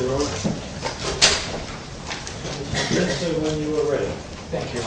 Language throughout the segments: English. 2007, 5-0, 4-0, and you can finish it when you are ready. Thank you.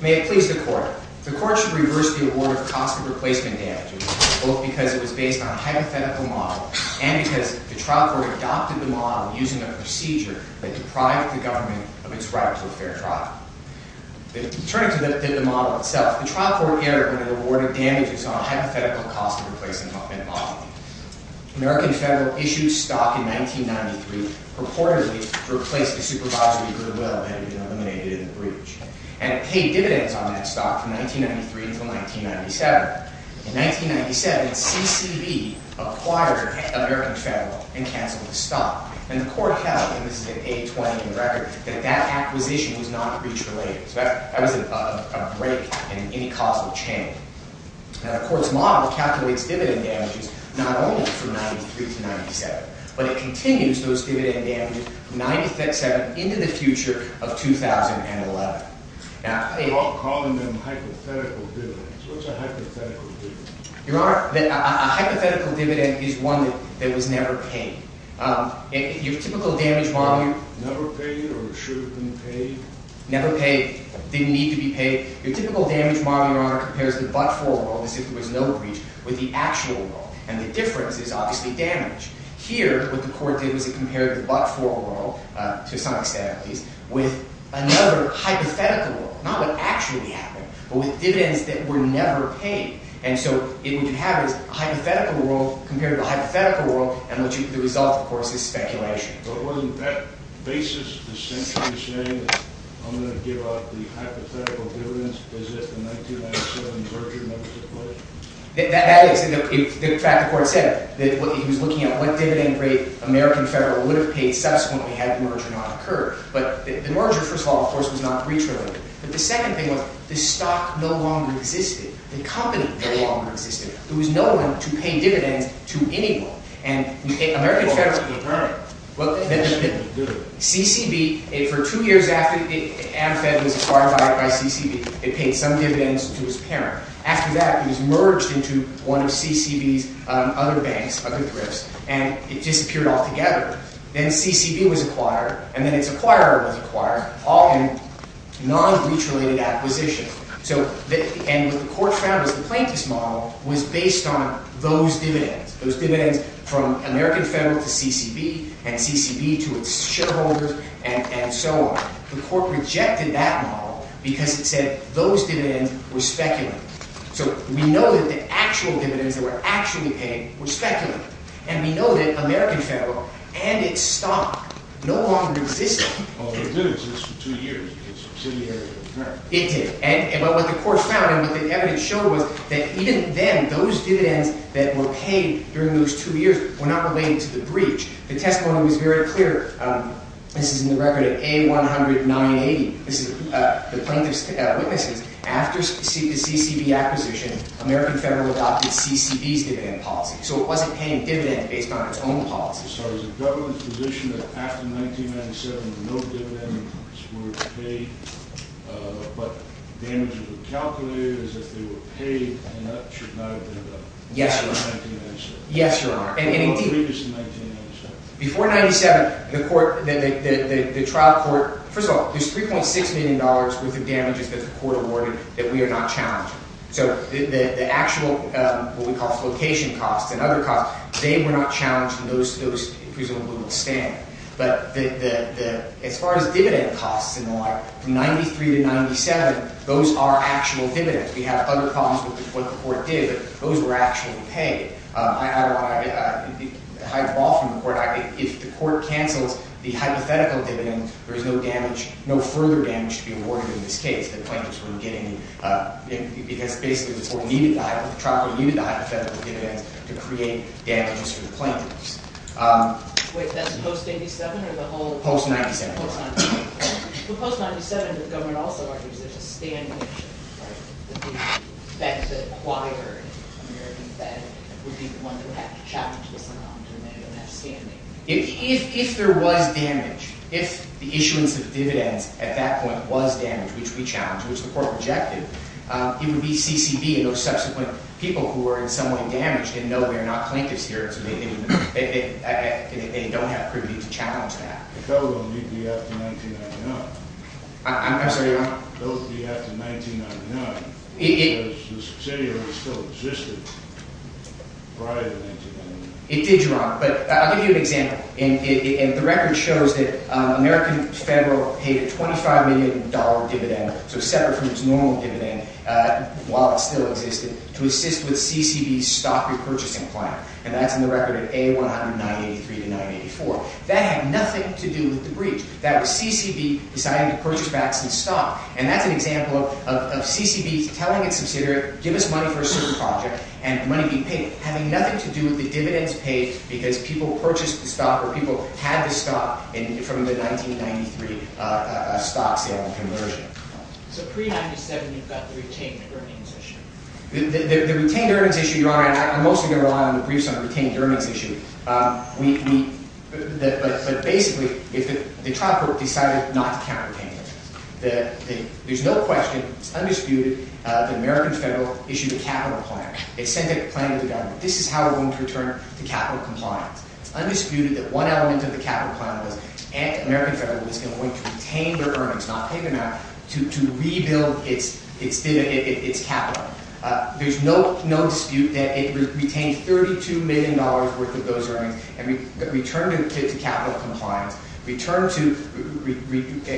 May it please the Court, the Court should reverse the award of cost of replacement damages, both because it was based on a hypothetical model and because the trial court adopted the model using a procedure that deprived the government of its right to a fair trial. Turning to the model itself, the trial court erred when it awarded damages on a hypothetical cost of replacement model. The American Federal issued stock in 1993 purportedly to replace the supervisory goodwill that had been eliminated in the breach. And it paid dividends on that stock from 1993 until 1997. In 1997, CCB acquired American Federal and canceled the stock. And the Court held, and this is in A-20 in the record, that that acquisition was not breach-related. So that was a break in any causal chain. Now, the Court's model calculates dividend damages not only from 1993 to 1997, but it continues those dividend damages from 1997 into the future of 2011. I'm calling them hypothetical dividends. What's a hypothetical dividend? Your Honor, a hypothetical dividend is one that was never paid. Your typical damage model- Never paid or should have been paid? Never paid. Didn't need to be paid. Your typical damage model, Your Honor, compares the but-for rule, as if there was no breach, with the actual rule. And the difference is obviously damage. Here, what the Court did was it compared the but-for rule, to some extent at least, with another hypothetical rule. Not what actually happened, but with dividends that were never paid. And so what you have is a hypothetical rule compared to a hypothetical rule. And the result, of course, is speculation. But wasn't that basis essentially saying, I'm going to give up the hypothetical dividends as if the 1997 merger never took place? That is. In fact, the Court said that it was looking at what dividend rate American Federal would have paid subsequently had the merger not occurred. But the merger, first of all, of course, was not breach-related. But the second thing was, the stock no longer existed. The company no longer existed. There was no one to pay dividends to anyone. And American Federal paid dividends. Right. What did it do? CCB, for two years after AmFed was acquired by CCB, it paid some dividends to its parent. After that, it was merged into one of CCB's other banks, other thrifts, and it disappeared altogether. Then CCB was acquired, and then its acquirer was acquired, all in non-breach-related acquisition. And what the Court found was the plaintiff's model was based on those dividends, those dividends from American Federal to CCB, and CCB to its shareholders, and so on. The Court rejected that model because it said those dividends were speculative. So we know that the actual dividends that were actually paid were speculative. And we know that American Federal and its stock no longer existed. Well, it did exist for two years. It's subsidiary, right? It did. But what the Court found and what the evidence showed was that even then, those dividends that were paid during those two years were not related to the breach. The testimony was very clear. This is in the record of A-100-980. This is the plaintiff's witnesses. After the CCB acquisition, American Federal adopted CCB's dividend policy. So it wasn't paying dividends based on its own policy. So is the government's position that after 1997, no dividends were paid, but damages were calculated as if they were paid, and that should not have been done? Before 1997? Yes, Your Honor. And indeed, before 1997, the trial court – first of all, there's $3.6 million worth of damages that the Court awarded that we are not challenging. So the actual, what we call flocation costs and other costs, they were not challenged in those inclusions that we will disdain. But as far as dividend costs and the like, from 1993 to 1997, those are actual dividends. We have other problems with what the Court did, but those were actually paid. I don't want to hide the ball from the Court. If the Court cancels the hypothetical dividend, there is no further damage to be awarded in this case, because basically the trial court needed the hypothetical dividends to create damages for the plaintiffs. Wait, that's post-87? Post-97. Well, post-97, the government also argues there's a standing issue, right? That the acquired American Fed would be the one that would have to challenge this amount and have standing. If there was damage, if the issuance of dividends at that point was damage, which we challenged, which the Court rejected, it would be CCB and those subsequent people who were in some way damaged and know they're not plaintiffs here, so they don't have privilege to challenge that. I'm sorry, Your Honor? It did, Your Honor. But I'll give you an example. The record shows that American Federal paid a $25 million dividend, so separate from its normal dividend while it still existed, to assist with CCB's stock repurchasing plan. And that's in the record at A-100-983-984. That had nothing to do with the breach. That was CCB deciding to purchase back some stock. And that's an example of CCB telling its subsidiary, give us money for a certain project and money be paid. Having nothing to do with the dividends paid because people purchased the stock or people had the stock from the 1993 stock sale and conversion. The retained earnings issue, Your Honor, and I'm mostly going to rely on the briefs on the retained earnings issue, but basically, the trial court decided not to count retained earnings. There's no question, it's undisputed, that American Federal issued a capital plan. It sent a plan to the government. This is how we're going to return it to capital compliance. It's undisputed that one element of the capital plan was American Federal was going to retain their earnings, not pay them out, to rebuild its dividend, its capital. There's no dispute that it retained $32 million worth of those earnings and returned it to capital compliance, returned to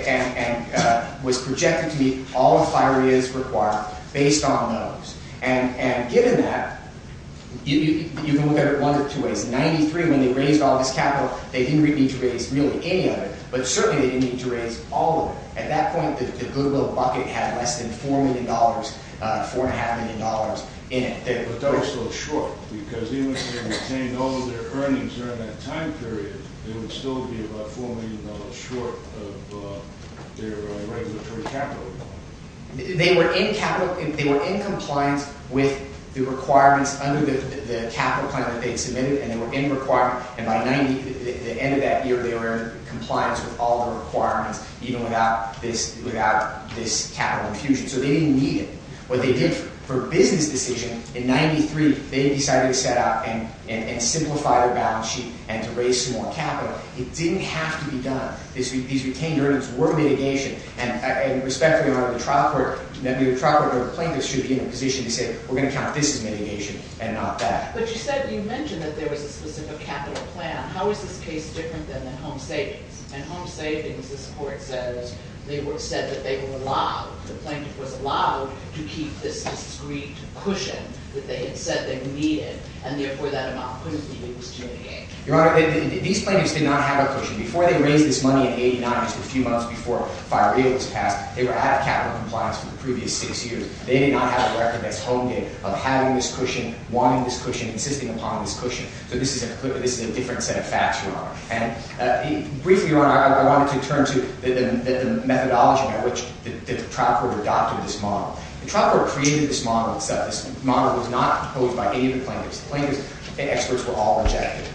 and was projected to meet all the FIRAs required based on those. Given that, you can look at it one or two ways. In 1993, when they raised all this capital, they didn't really need to raise any of it, but certainly they didn't need to raise all of it. At that point, the goodwill bucket had less than $4 million, $4.5 million in it. But that was still short because even if they retained all of their earnings during that time period, it would still be about $4 million short of their regulatory capital. They were in compliance with the requirements under the capital plan that they had submitted and they were in requirement. And by the end of that year, they were in compliance with all the requirements, even without this capital infusion. So they didn't need it. What they did for a business decision in 1993, they decided to set out and simplify their balance sheet and to raise some more capital. It didn't have to be done. These retained earnings were mitigation. And respectfully, Your Honor, the trial court or the plaintiffs should be in a position to say, we're going to count this as mitigation and not that. But you said, you mentioned that there was a specific capital plan. How is this case different than the home savings? And home savings, this court says, they said that they were allowed, the plaintiff was allowed to keep this discreet cushion that they had said they needed and therefore that amount couldn't be used to mitigate. Your Honor, these plaintiffs did not have a cushion. Before they raised this money in 89, just a few months before Fire Eagle was passed, they were out of capital compliance for the previous six years. They did not have a record that's home game of having this cushion, wanting this cushion, insisting upon this cushion. So this is a different set of facts, Your Honor. And briefly, Your Honor, I wanted to turn to the methodology by which the trial court adopted this model. The trial court created this model, except this model was not proposed by any of the plaintiffs. The plaintiffs, the experts were all rejected.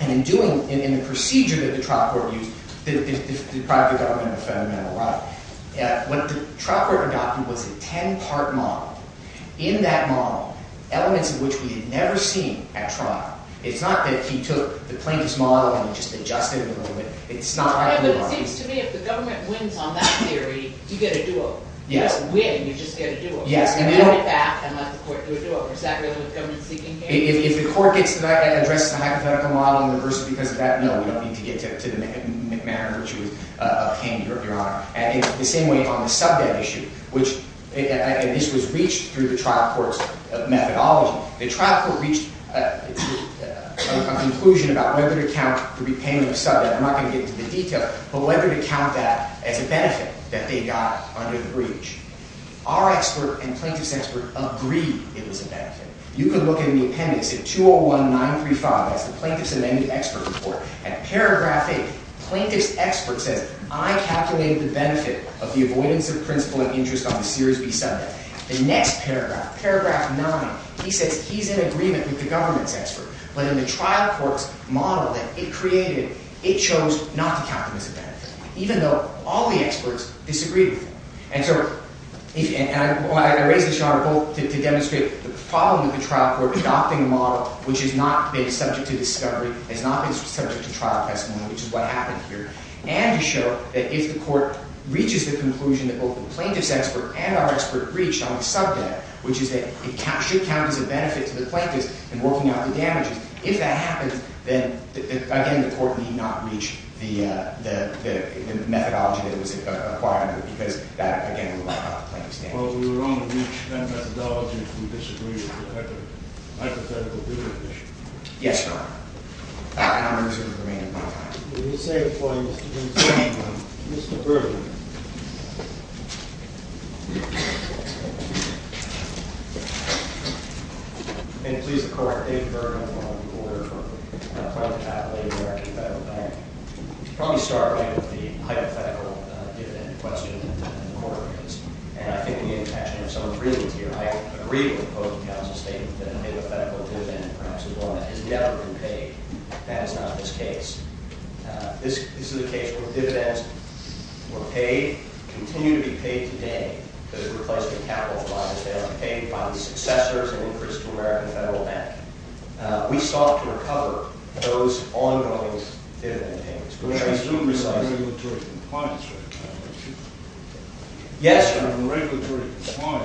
And in the procedure that the trial court used, it deprived the government of a fundamental right. What the trial court adopted was a 10-part model. In that model, elements of which we had never seen at trial, it's not that he took the plaintiff's model and just adjusted it a little bit. It's not like that. But it seems to me if the government wins on that theory, you get a do-over. Yes. You don't win, you just get a do-over. Yes. You get it back and let the court do a do-over. Is that really what the government's seeking here? If the court gets to that and addresses the hypothetical model and reverses because of that, no, we don't need to get to the manner in which it was obtained, Your Honor. And in the same way on the sub-debt issue, which at least was reached through the trial court's methodology, the trial court reached a conclusion about whether to count the repayment of sub-debt. I'm not going to get into the details, but whether to count that as a benefit that they got under the breach. Our expert and plaintiff's expert agreed it was a benefit. You can look in the appendix at 201-935. That's the plaintiff's amended expert report. At paragraph 8, plaintiff's expert says, I calculated the benefit of the avoidance of principal and interest on the series B sub-debt. The next paragraph, paragraph 9, he says he's in agreement with the government's expert. But in the trial court's model that it created, it chose not to count it as a benefit, even though all the experts disagreed with it. And so I raise this, Your Honor, both to demonstrate the problem of the trial court adopting a model which has not been subject to discovery, has not been subject to trial testimony, which is what happened here, and to show that if the court reaches the conclusion that both the plaintiff's expert and our expert reached on the sub-debt, which is that it should count as a benefit to the plaintiffs in working out the damages, if that happens, then again, the court need not reach the methodology that it was acquiring, because that, again, will not help the plaintiff's case. Well, we were on the reach then methodology if we disagreed with the hypothetical due petition. Yes, Your Honor. And I'm going to resume the remaining part of my time. Will you say before you, Mr. Benson, Mr. Bergman. And please, the court, David Bergman, will hold the order for the plaintiff at the American Federal Bank. Let me start right with the hypothetical dividend question that the court has. And I think the intention of some of the briefings here, I agree with the closing counsel's statement that a hypothetical dividend, perhaps as well, has never been paid. That is not this case. This is a case where dividends were paid, continue to be paid today, but replaced with capital funds. They are paid by the successors and increased to American Federal Bank. We sought to recover those ongoing dividend payments. Yes, Your Honor.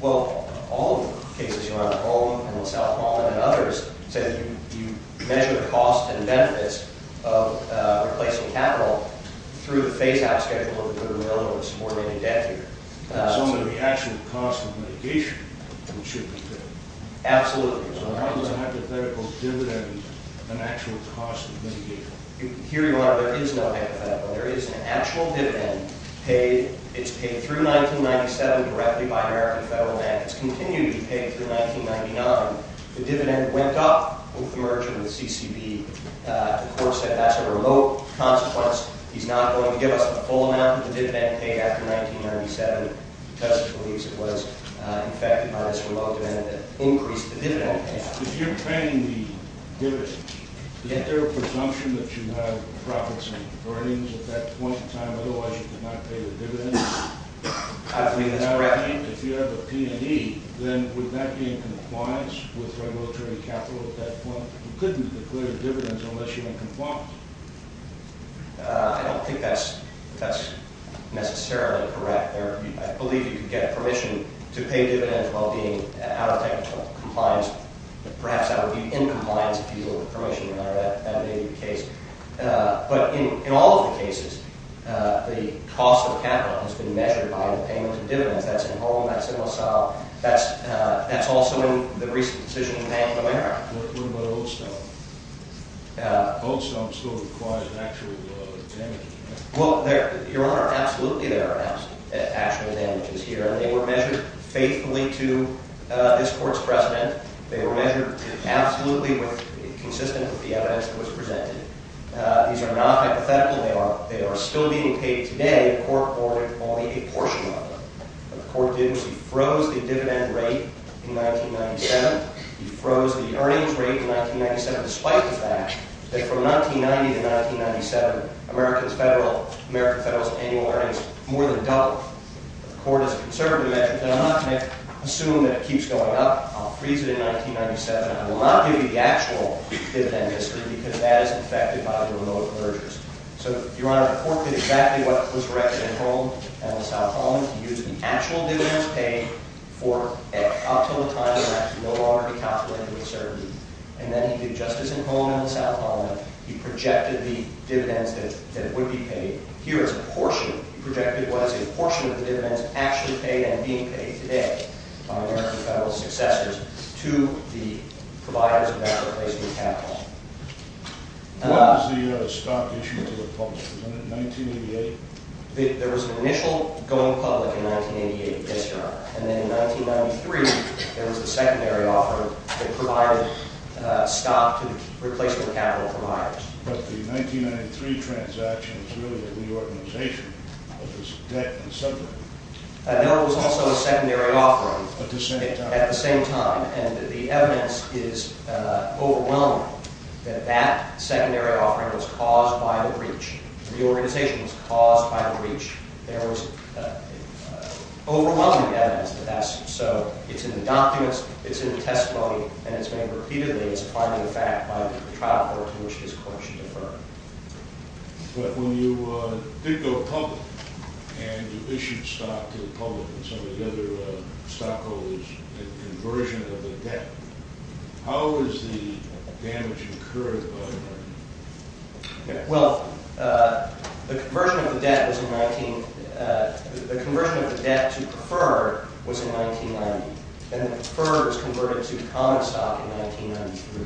Well, all of the cases, Your Honor. All of them, and the self-proclaimed and others, said you measure the cost and benefits of replacing capital through the phase-out schedule of a good or really a subordinated debt here. So the actual cost of mitigation should be paid. Absolutely. So how does a hypothetical dividend, an actual cost of mitigation? Here, Your Honor, there is no hypothetical. There is an actual dividend paid. It's paid through 1997 directly by American Federal Bank. It's continued to be paid through 1999. The dividend went up with the merger with CCB. The court said that's a remote consequence. He's not going to give us the full amount of the dividend paid after 1997 because he believes it was, in fact, by this remote event that increased the dividend payment. If you're paying the dividend, is there a presumption that you have profits and earnings at that point in time? Otherwise, you could not pay the dividend. I believe that's correct. If you have a P&E, then would that be in compliance with regulatory capital at that point? You couldn't declare dividends unless you were in compliance. I don't think that's necessarily correct. I believe you could get permission to pay dividends while being out of technical compliance. Perhaps that would be in compliance if you were permitted. That may be the case. But in all of the cases, the cost of capital has been measured by the payment of dividends. That's in home. That's in LaSalle. That's also in the recent decision to pay up in America. What about Goldstone? Goldstone still requires an actual damage. Well, Your Honor, absolutely there are actual damages here. They were measured faithfully to this court's precedent. They were measured absolutely consistent with the evidence that was presented. These are not hypothetical. They are still being paid today. The court ordered only a portion of them. What the court did was he froze the dividend rate in 1997. He froze the earnings rate in 1997 despite the fact that from 1990 to 1997, America's federal annual earnings more than doubled. The court is conservative. I'm not going to assume that it keeps going up. I'll freeze it in 1997. I will not give you the actual dividend history because that is affected by the remote mergers. So, Your Honor, the court did exactly what was directed in home, in LaSalle home. He used the actual dividends paid for up until the time when that could no longer be calculated with certainty. And then he did just as in home in LaSalle home. He projected the dividends that would be paid. Here it's a portion. He projected what is a portion of the dividends actually paid and being paid today by America's federal successors to the providers of that replacement capital. What was the stock issued to the public? Was that in 1988? There was an initial going public in 1988. Yes, Your Honor. And then in 1993, there was a secondary offer that provided stock to the replacement capital from hires. But the 1993 transaction was really a reorganization. It was debt and sub-debt. No, it was also a secondary offering. At the same time. At the same time. And the evidence is overwhelming that that secondary offering was caused by the breach. The organization was caused by the breach. There was overwhelming evidence of that. So it's in the documents. It's in the testimony. And it's been repeatedly supplied in fact by the trial court to which this court should defer. But when you did go public and you issued stock to the public and some of the other stockholders in conversion of the debt, how was the damage incurred by that? Well, the conversion of the debt to defer was in 1990. And defer was converted to common stock in 1993.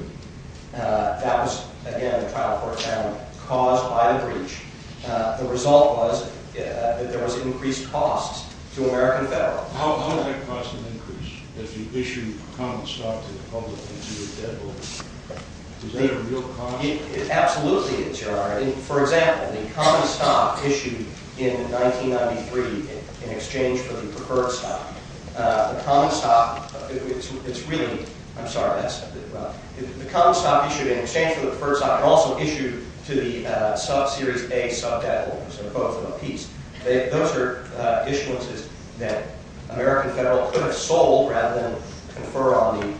That was, again, the trial court found caused by the breach. The result was that there was increased costs to American Federal. How did that cost increase as you issued common stock to the public and to the debt holders? Is that a real economy? It absolutely is, Your Honor. For example, the common stock issued in 1993 in exchange for the preferred stock. The common stock, it's really – I'm sorry, that's a bit rough. The common stock issued in exchange for the preferred stock and also issued to the sub-series A sub-debt holders, in a quote from a piece, those are issuances that American Federal could have sold rather than confer on the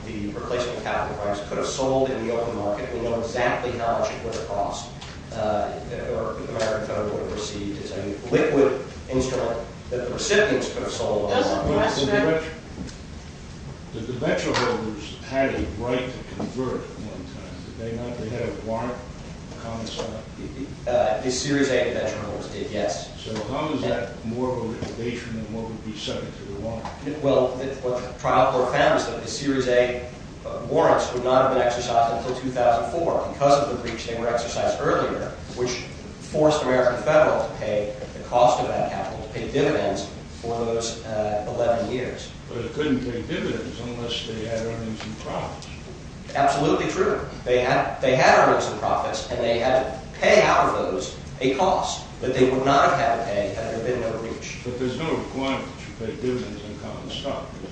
could have sold in the open market. We know exactly how much it would have cost if American Federal would have received. It's a liquid instrument that the recipients could have sold. Did the venture holders have a right to convert at one time? Did they not? Did they have a right to common stock? The series A venture holders did, yes. So how is that more of a limitation than what would be subject to the law? Well, what the trial court found was that the series A warrants would not have been exercised until 2004 because of the breach. They were exercised earlier, which forced American Federal to pay the cost of that capital, to pay dividends for those 11 years. But it couldn't pay dividends unless they had earnings and profits. Absolutely true. They had earnings and profits, and they had to pay out of those a cost that they would not have had to pay had there been no breach. But there's no requirement that you pay dividends in common stock, is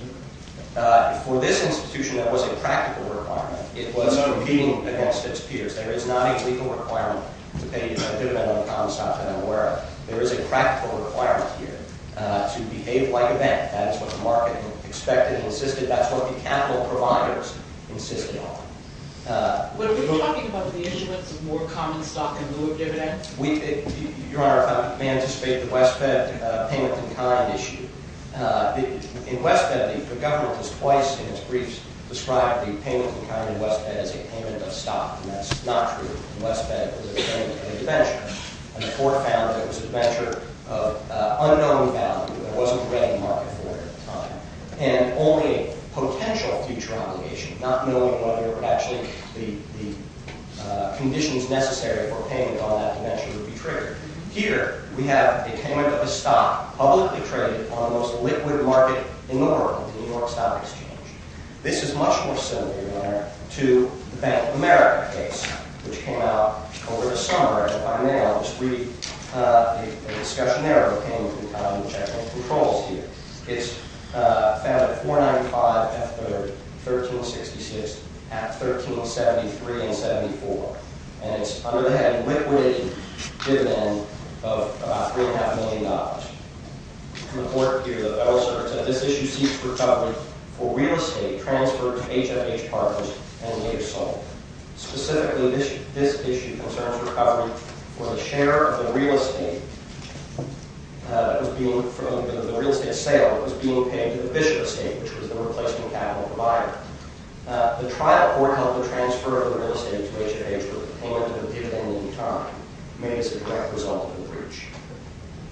there? For this institution, that was a practical requirement. It was competing against its peers. There is not a legal requirement to pay dividends in common stock. And I'm aware of it. There is a practical requirement here to behave like a bank. That is what the market expected and insisted. That's what the capital providers insisted on. Were we talking about the issuance of more common stock in lieu of dividends? Your Honor, if I may anticipate the West Bed payment in kind issue. In West Bed, the government has twice in its briefs described the payment in kind in West Bed as a payment of stock. And that's not true. In West Bed, it was a payment of a diventure. And the court found that it was a diventure of unknown value. There wasn't a ready market for it at the time. And only a potential future obligation, not knowing whether or not actually the conditions necessary for payment on that diventure would be triggered. Here, we have a payment of a stock publicly traded on the most liquid market in the world, the New York Stock Exchange. This is much more similar, Your Honor, to the Bank of America case, which came out over the summer. And if I may, I'll just read a discussionary of payment in kind which I think controls here. It's found at 495 F. 3rd, 1366, at 1373 and 74. And it's under the heading liquidated dividend of about $3.5 million. The court here asserts that this issue seeks recovery for real estate transferred to HFH partners and later sold. Specifically, this issue concerns recovery for the share of the real estate from the real estate sale that was being paid to the Bishop Estate, which was the replacement capital provider. The trial court held the transfer of the real estate to HFH with the payment of the dividend in time, made as a direct result of the breach.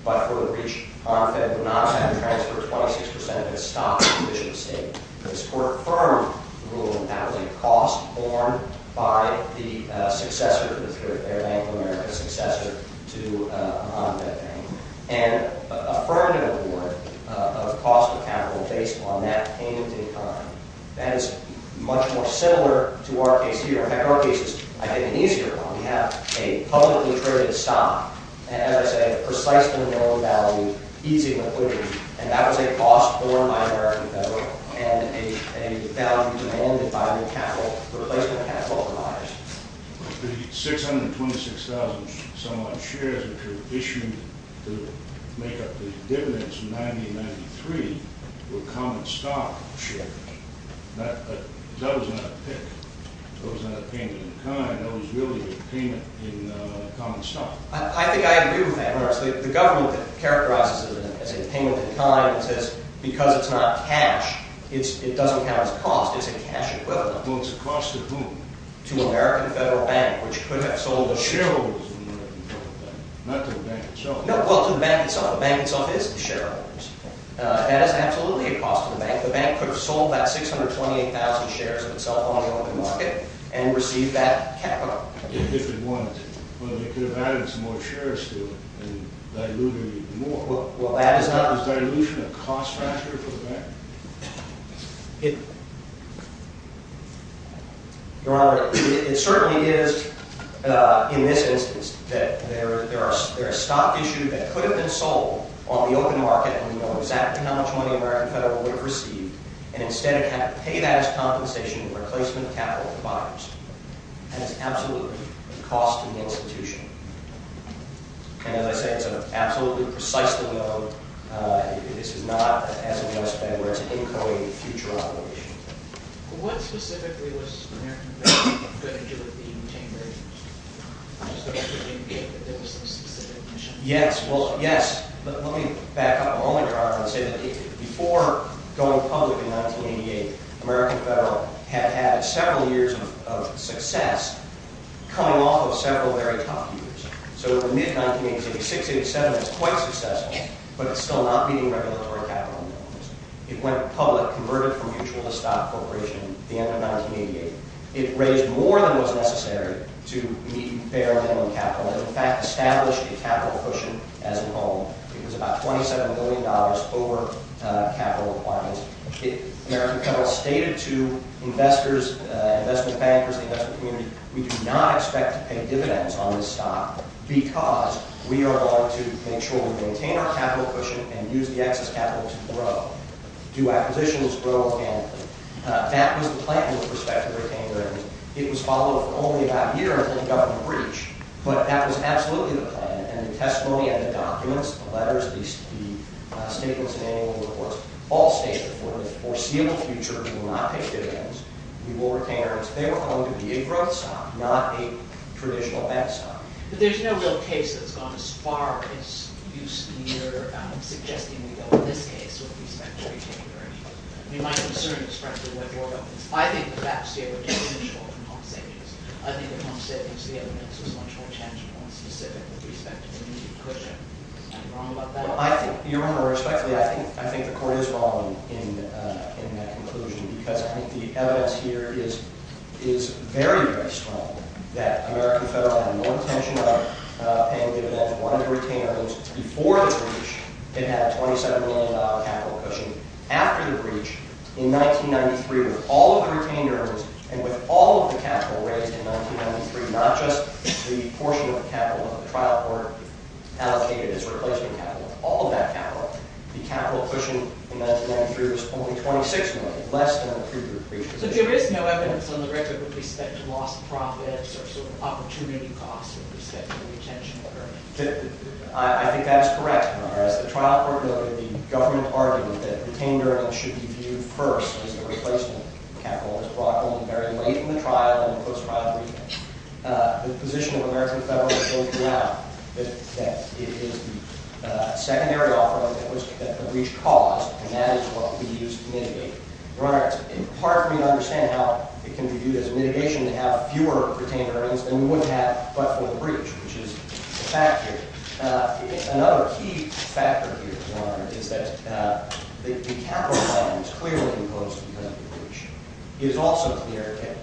But for the breach, Arm Fed would not have to transfer 26% of its stock to Bishop Estate. This court firmly ruled that the cost borne by the successor, the Fairbank of America successor to Arm Fed Bank, and affirmed an award of cost of capital based on that payment in time. That is much more similar to our case here. In fact, our case is, I think, an easier one. We have a publicly traded stock. And as I say, precisely known value, easing liquidity. And that was a cost borne by American Federal and a value demanded by the replacement capital providers. The 626,000 some odd shares that you're issuing to make up the dividends in 1993 were common stock shares. That was not a pick. That was not a payment in time. That was really a payment in common stock. I think I agree with that. The government characterizes it as a payment in time. It says because it's not cash, it doesn't count as cost. It's a cash equivalent. Well, it's a cost to whom? To American Federal Bank, which could have sold the shares. Well, the shareholder is American Federal Bank, not to the bank itself. No, well, to the bank itself. The bank itself is the shareholder. That is absolutely a cost to the bank. The bank could have sold that 628,000 shares of itself on the open market and received that capital. If it wanted to. Well, they could have added some more shares to it and diluted it even more. Well, that is not. Is dilution a cost factor for the bank? Your Honor, it certainly is, in this instance, that there is stock issued that could have been sold on the open market and we know exactly how much money American Federal would have received and instead it had to pay that as compensation in replacement capital for buyers. And it's absolutely a cost to the institution. And as I said, it's absolutely precisely known. This is not, as it must have been, where it's inchoating future operations. What specifically was American Federal going to do with the retained ratings? I'm just wondering if there was some specific mission. Yes, well, yes, but let me back up a moment, Your Honor, and say that before going public in 1988, American Federal had had several years of success coming off of several very tough years. So in mid-1988, 687 was quite successful, but it's still not meeting regulatory capital norms. It went public, converted from mutual to stock corporation at the end of 1988. It raised more than was necessary to meet bare minimum capital and, in fact, established a capital cushion as a whole. It was about $27 million over capital requirements. American Federal stated to investors, investment bankers, the investment community, we do not expect to pay dividends on this stock because we are going to make sure we maintain our capital cushion and use the excess capital to grow. Do acquisitions grow? That was the plan with respect to retained ratings. It was followed for only about a year until the government breached, but that was absolutely the plan, and the testimony and the documents, the letters, the statements and annual reports all stated for the foreseeable future we will not pay dividends. We will retain our earnings. They were going to be a growth stock, not a traditional bad stock. But there's no real case that's gone as far as you're suggesting we go in this case with respect to retained earnings. My concern is frankly what you're talking about. I think that that's the original compensation. I think the compensation evidence was much more tangible and specific with respect to the mutual cushion. Am I wrong about that? Your Honor, respectfully, I think the court is wrong in that conclusion because I think the evidence here is very, very strong that American Federal had no intention of paying dividends and wanted to retain earnings. Before the breach, it had a $27 million capital cushion. After the breach, in 1993, with all of the retained earnings and with all of the capital raised in 1993, not just the portion of the capital that the trial court allocated as replacement capital, all of that capital, the capital cushion in 1993 was only $26 million, less than in the previous breaches. So there is no evidence on the record with respect to lost profits or sort of opportunity costs with respect to the retention order? I think that is correct, Your Honor. As the trial court noted, the government argument that retained earnings should be viewed first as the replacement capital was brought in very late in the trial and in the post-trial briefing. The position of American Federal is open now. It is the secondary offering that the breach caused, and that is what we used to mitigate. Your Honor, it is hard for me to understand how it can be viewed as a mitigation to have fewer retained earnings than we would have but for the breach, which is a factor. Another key factor here, Your Honor, is that the capital plan was clearly imposed because of the breach. It is also clear that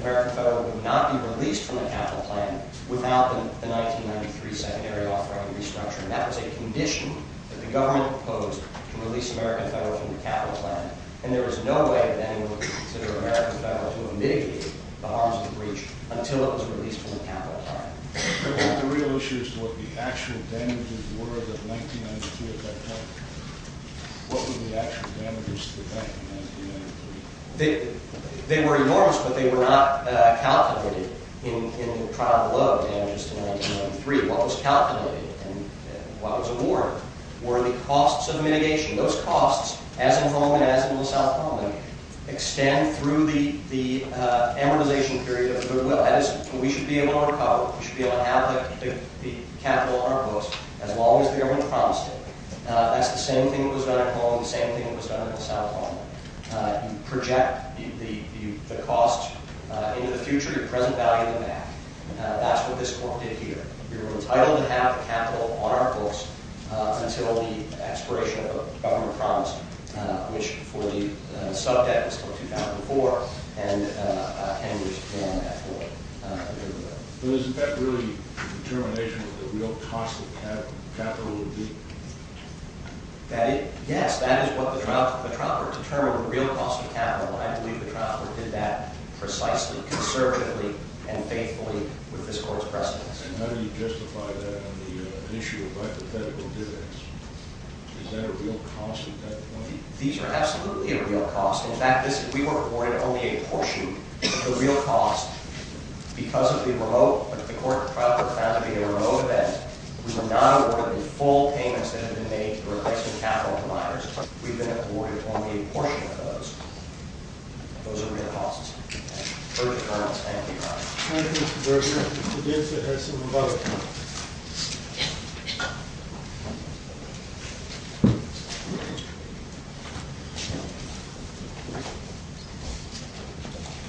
American Federal would not be released from the capital plan without the 1993 secondary offering restructuring. That was a condition that the government proposed to release American Federal from the capital plan, and there was no way that anyone would consider American Federal to have mitigated the harms of the breach until it was released from the capital plan. Your Honor, the real issue is what the actual damages were of 1992 at that time. What were the actual damages to 1993? They were enormous, but they were not calculated in the trial below the damages to 1993. What was calculated and what was awarded were the costs of mitigation. Those costs, as in Holland and as in Los Alamos, extend through the amortization period of their will. That is, we should be able to recover, we should be able to have the capital on our books as long as the government promised it. That is the same thing that was done in Holland, the same thing that was done in Los Alamos. You project the cost into the future, your present value in the back. That is what this Court did here. We were entitled to have the capital on our books until the expiration of the government promise, which for the sub-debt was until 2004, and 10 years later on that floor. Was that really the determination of what the real cost of capital would be? Yes, that is what the trial court determined, the real cost of capital, and I believe the trial court did that precisely, conservatively, and faithfully with this Court's precedence. And how do you justify that on the issue of hypothetical dividends? Is that a real cost at that point? These are absolutely a real cost. In fact, we were awarded only a portion of the real cost because of the remote, the court trial court found it to be a remote event. We were not awarded the full payments that had been made to the replacement capital providers. We've been awarded only a portion of those. Those are real costs. Thank you, Your Honor. Thank you, Mr. Berger. Mr. Gibson has some rebuttals.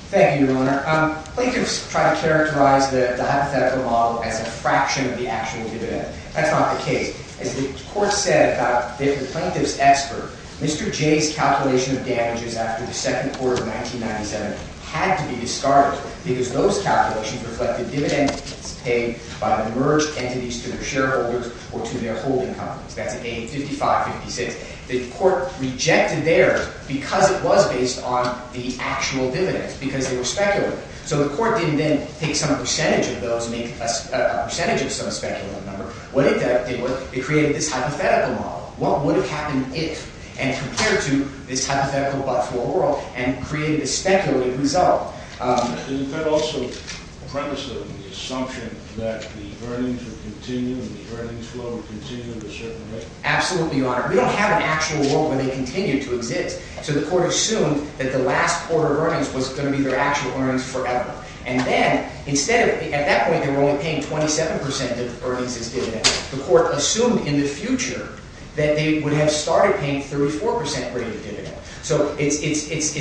Thank you, Your Honor. Plaintiffs try to characterize the hypothetical model as a fraction of the actual dividend. That's not the case. As the court said about the plaintiff's expert, Mr. J's calculation of damages after the second quarter of 1997 had to be discarded because those calculations reflected dividends paid by the merged entities to their shareholders or to their holding companies. That's A5556. The court rejected there because it was based on the actual dividends, because they were speculative. So the court didn't then take some percentage of those and make a percentage of some speculative number. What it did was it created this hypothetical model. What would have happened if? And compared to this hypothetical but for oral and created a speculative result. Absolutely, Your Honor. We don't have an actual world where they continue to exist. So the court assumed that the last quarter of earnings was going to be their actual earnings forever. And then, instead of... At that point, they were only paying 27% of earnings as dividends. The court assumed in the future that they would have started paying 34% rate of dividends. So it's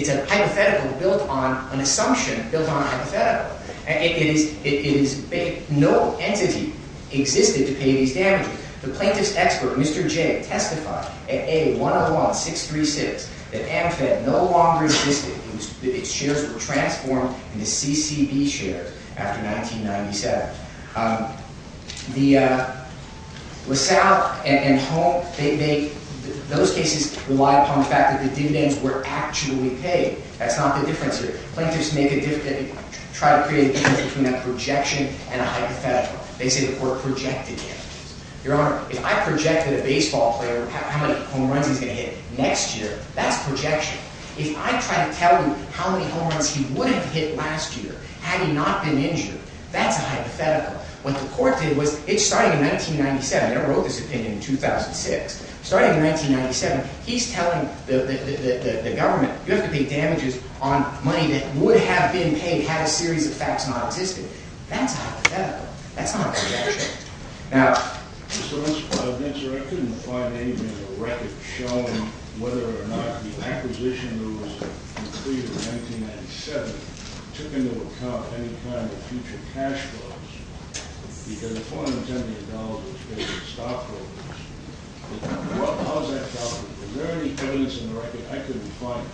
a hypothetical built on an assumption built on a hypothetical. It is... No entity existed to pay these damages. The plaintiff's expert, Mr. J, testified at A101-636 that Amfed no longer existed. Its shares were transformed into CCB shares after 1997. The LaSalle and Holm, those cases rely upon the fact that the dividends were actually paid. That's not the difference here. Plaintiffs try to create a difference between a projection and a hypothetical. They say the court projected damages. Your Honor, if I projected a baseball player how many home runs he's going to hit next year, that's projection. If I try to tell you how many home runs he would have hit last year had he not been injured, that's a hypothetical. What the court did was... It's starting in 1997. They wrote this opinion in 2006. Starting in 1997, he's telling the government, you have to pay damages on money that would have been paid, had a series of facts not existed. That's a hypothetical. That's not a projection. Now... Your Honor, I couldn't find any record showing whether or not the acquisition was completed in 1997 and took into account any kind of future cash flows because $470 million was paid to stockholders. How is that calculated? Is there any evidence in the record? I couldn't find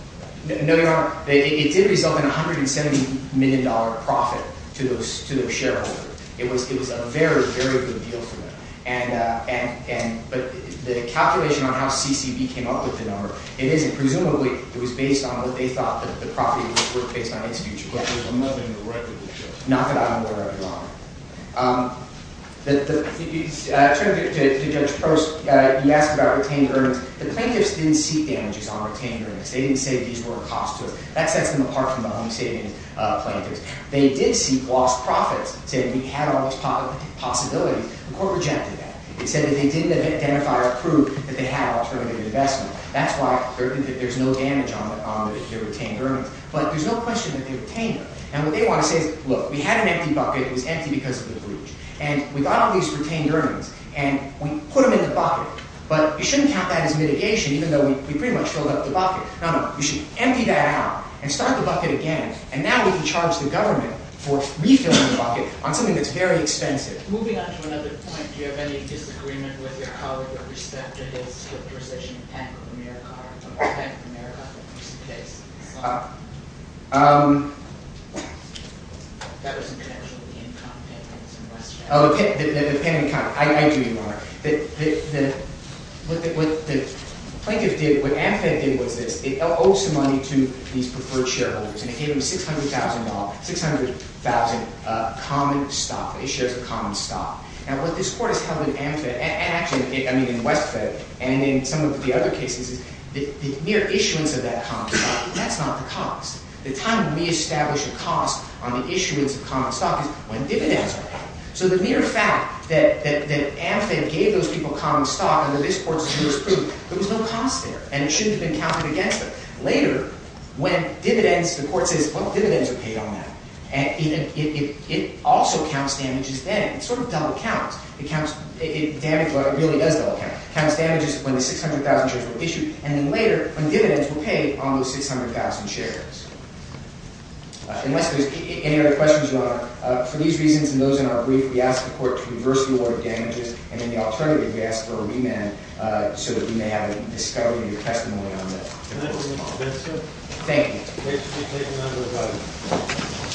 it. No, Your Honor. It did result in $170 million profit to the shareholder. It was a very, very good deal for them. The calculation on how CCB came up with it, presumably it was based on what they thought the property was worth based on its future. But there's nothing in the record that does. Not that I'm aware of, Your Honor. To Judge Post, you asked about retained earnings. The plaintiffs didn't seek damages on retained earnings. They didn't say these were a cost to them. That sets them apart from the home-saving plaintiffs. They did seek lost profits. They said we had all these possibilities. The court rejected that. It said that they didn't identify or prove that they had an alternative investment. That's why there's no damage on their retained earnings. But there's no question that they retained them. And what they want to say is, look, we had an empty bucket. It was empty because of the breach. And we got all these retained earnings. And we put them in the bucket. But you shouldn't count that as mitigation, even though we pretty much filled up the bucket. No, no, you should empty that out and start the bucket again. And now we can charge the government for refilling the bucket on something that's very expensive. Moving on to another point, do you have any disagreement with your colleague with respect to his position in Panic of America? Panic of America? What was the case? That was intentionally income payments in Westchester. Oh, the Panic of America. I do, Your Honor. What AMFED did was this. It owed some money to these preferred shareholders. And it gave them $600,000, $600,000 common stock. It shares a common stock. Now, what this court has held in AMFED, and actually, I mean, in WestFed, and in some of the other cases, the mere issuance of that common stock, that's not the cost. The time to reestablish a cost on the issuance of common stock is when dividends are paid. So the mere fact that AMFED gave those people common stock under this court's jurisprudence, there was no cost there. And it shouldn't have been counted against them. Later, when dividends, the court says, well, dividends are paid on that. It also counts damages then. It's sort of double counts. It really is double counts. It counts damages when the $600,000 shares were issued. And then later, when dividends were paid on those $600,000 shares. Unless there's any other questions, Your Honor, for these reasons and those in our brief, we ask the court to reverse the order of damages. And then the alternative, we ask for a remand so that we may have a discovery of your testimony on this. Thank you.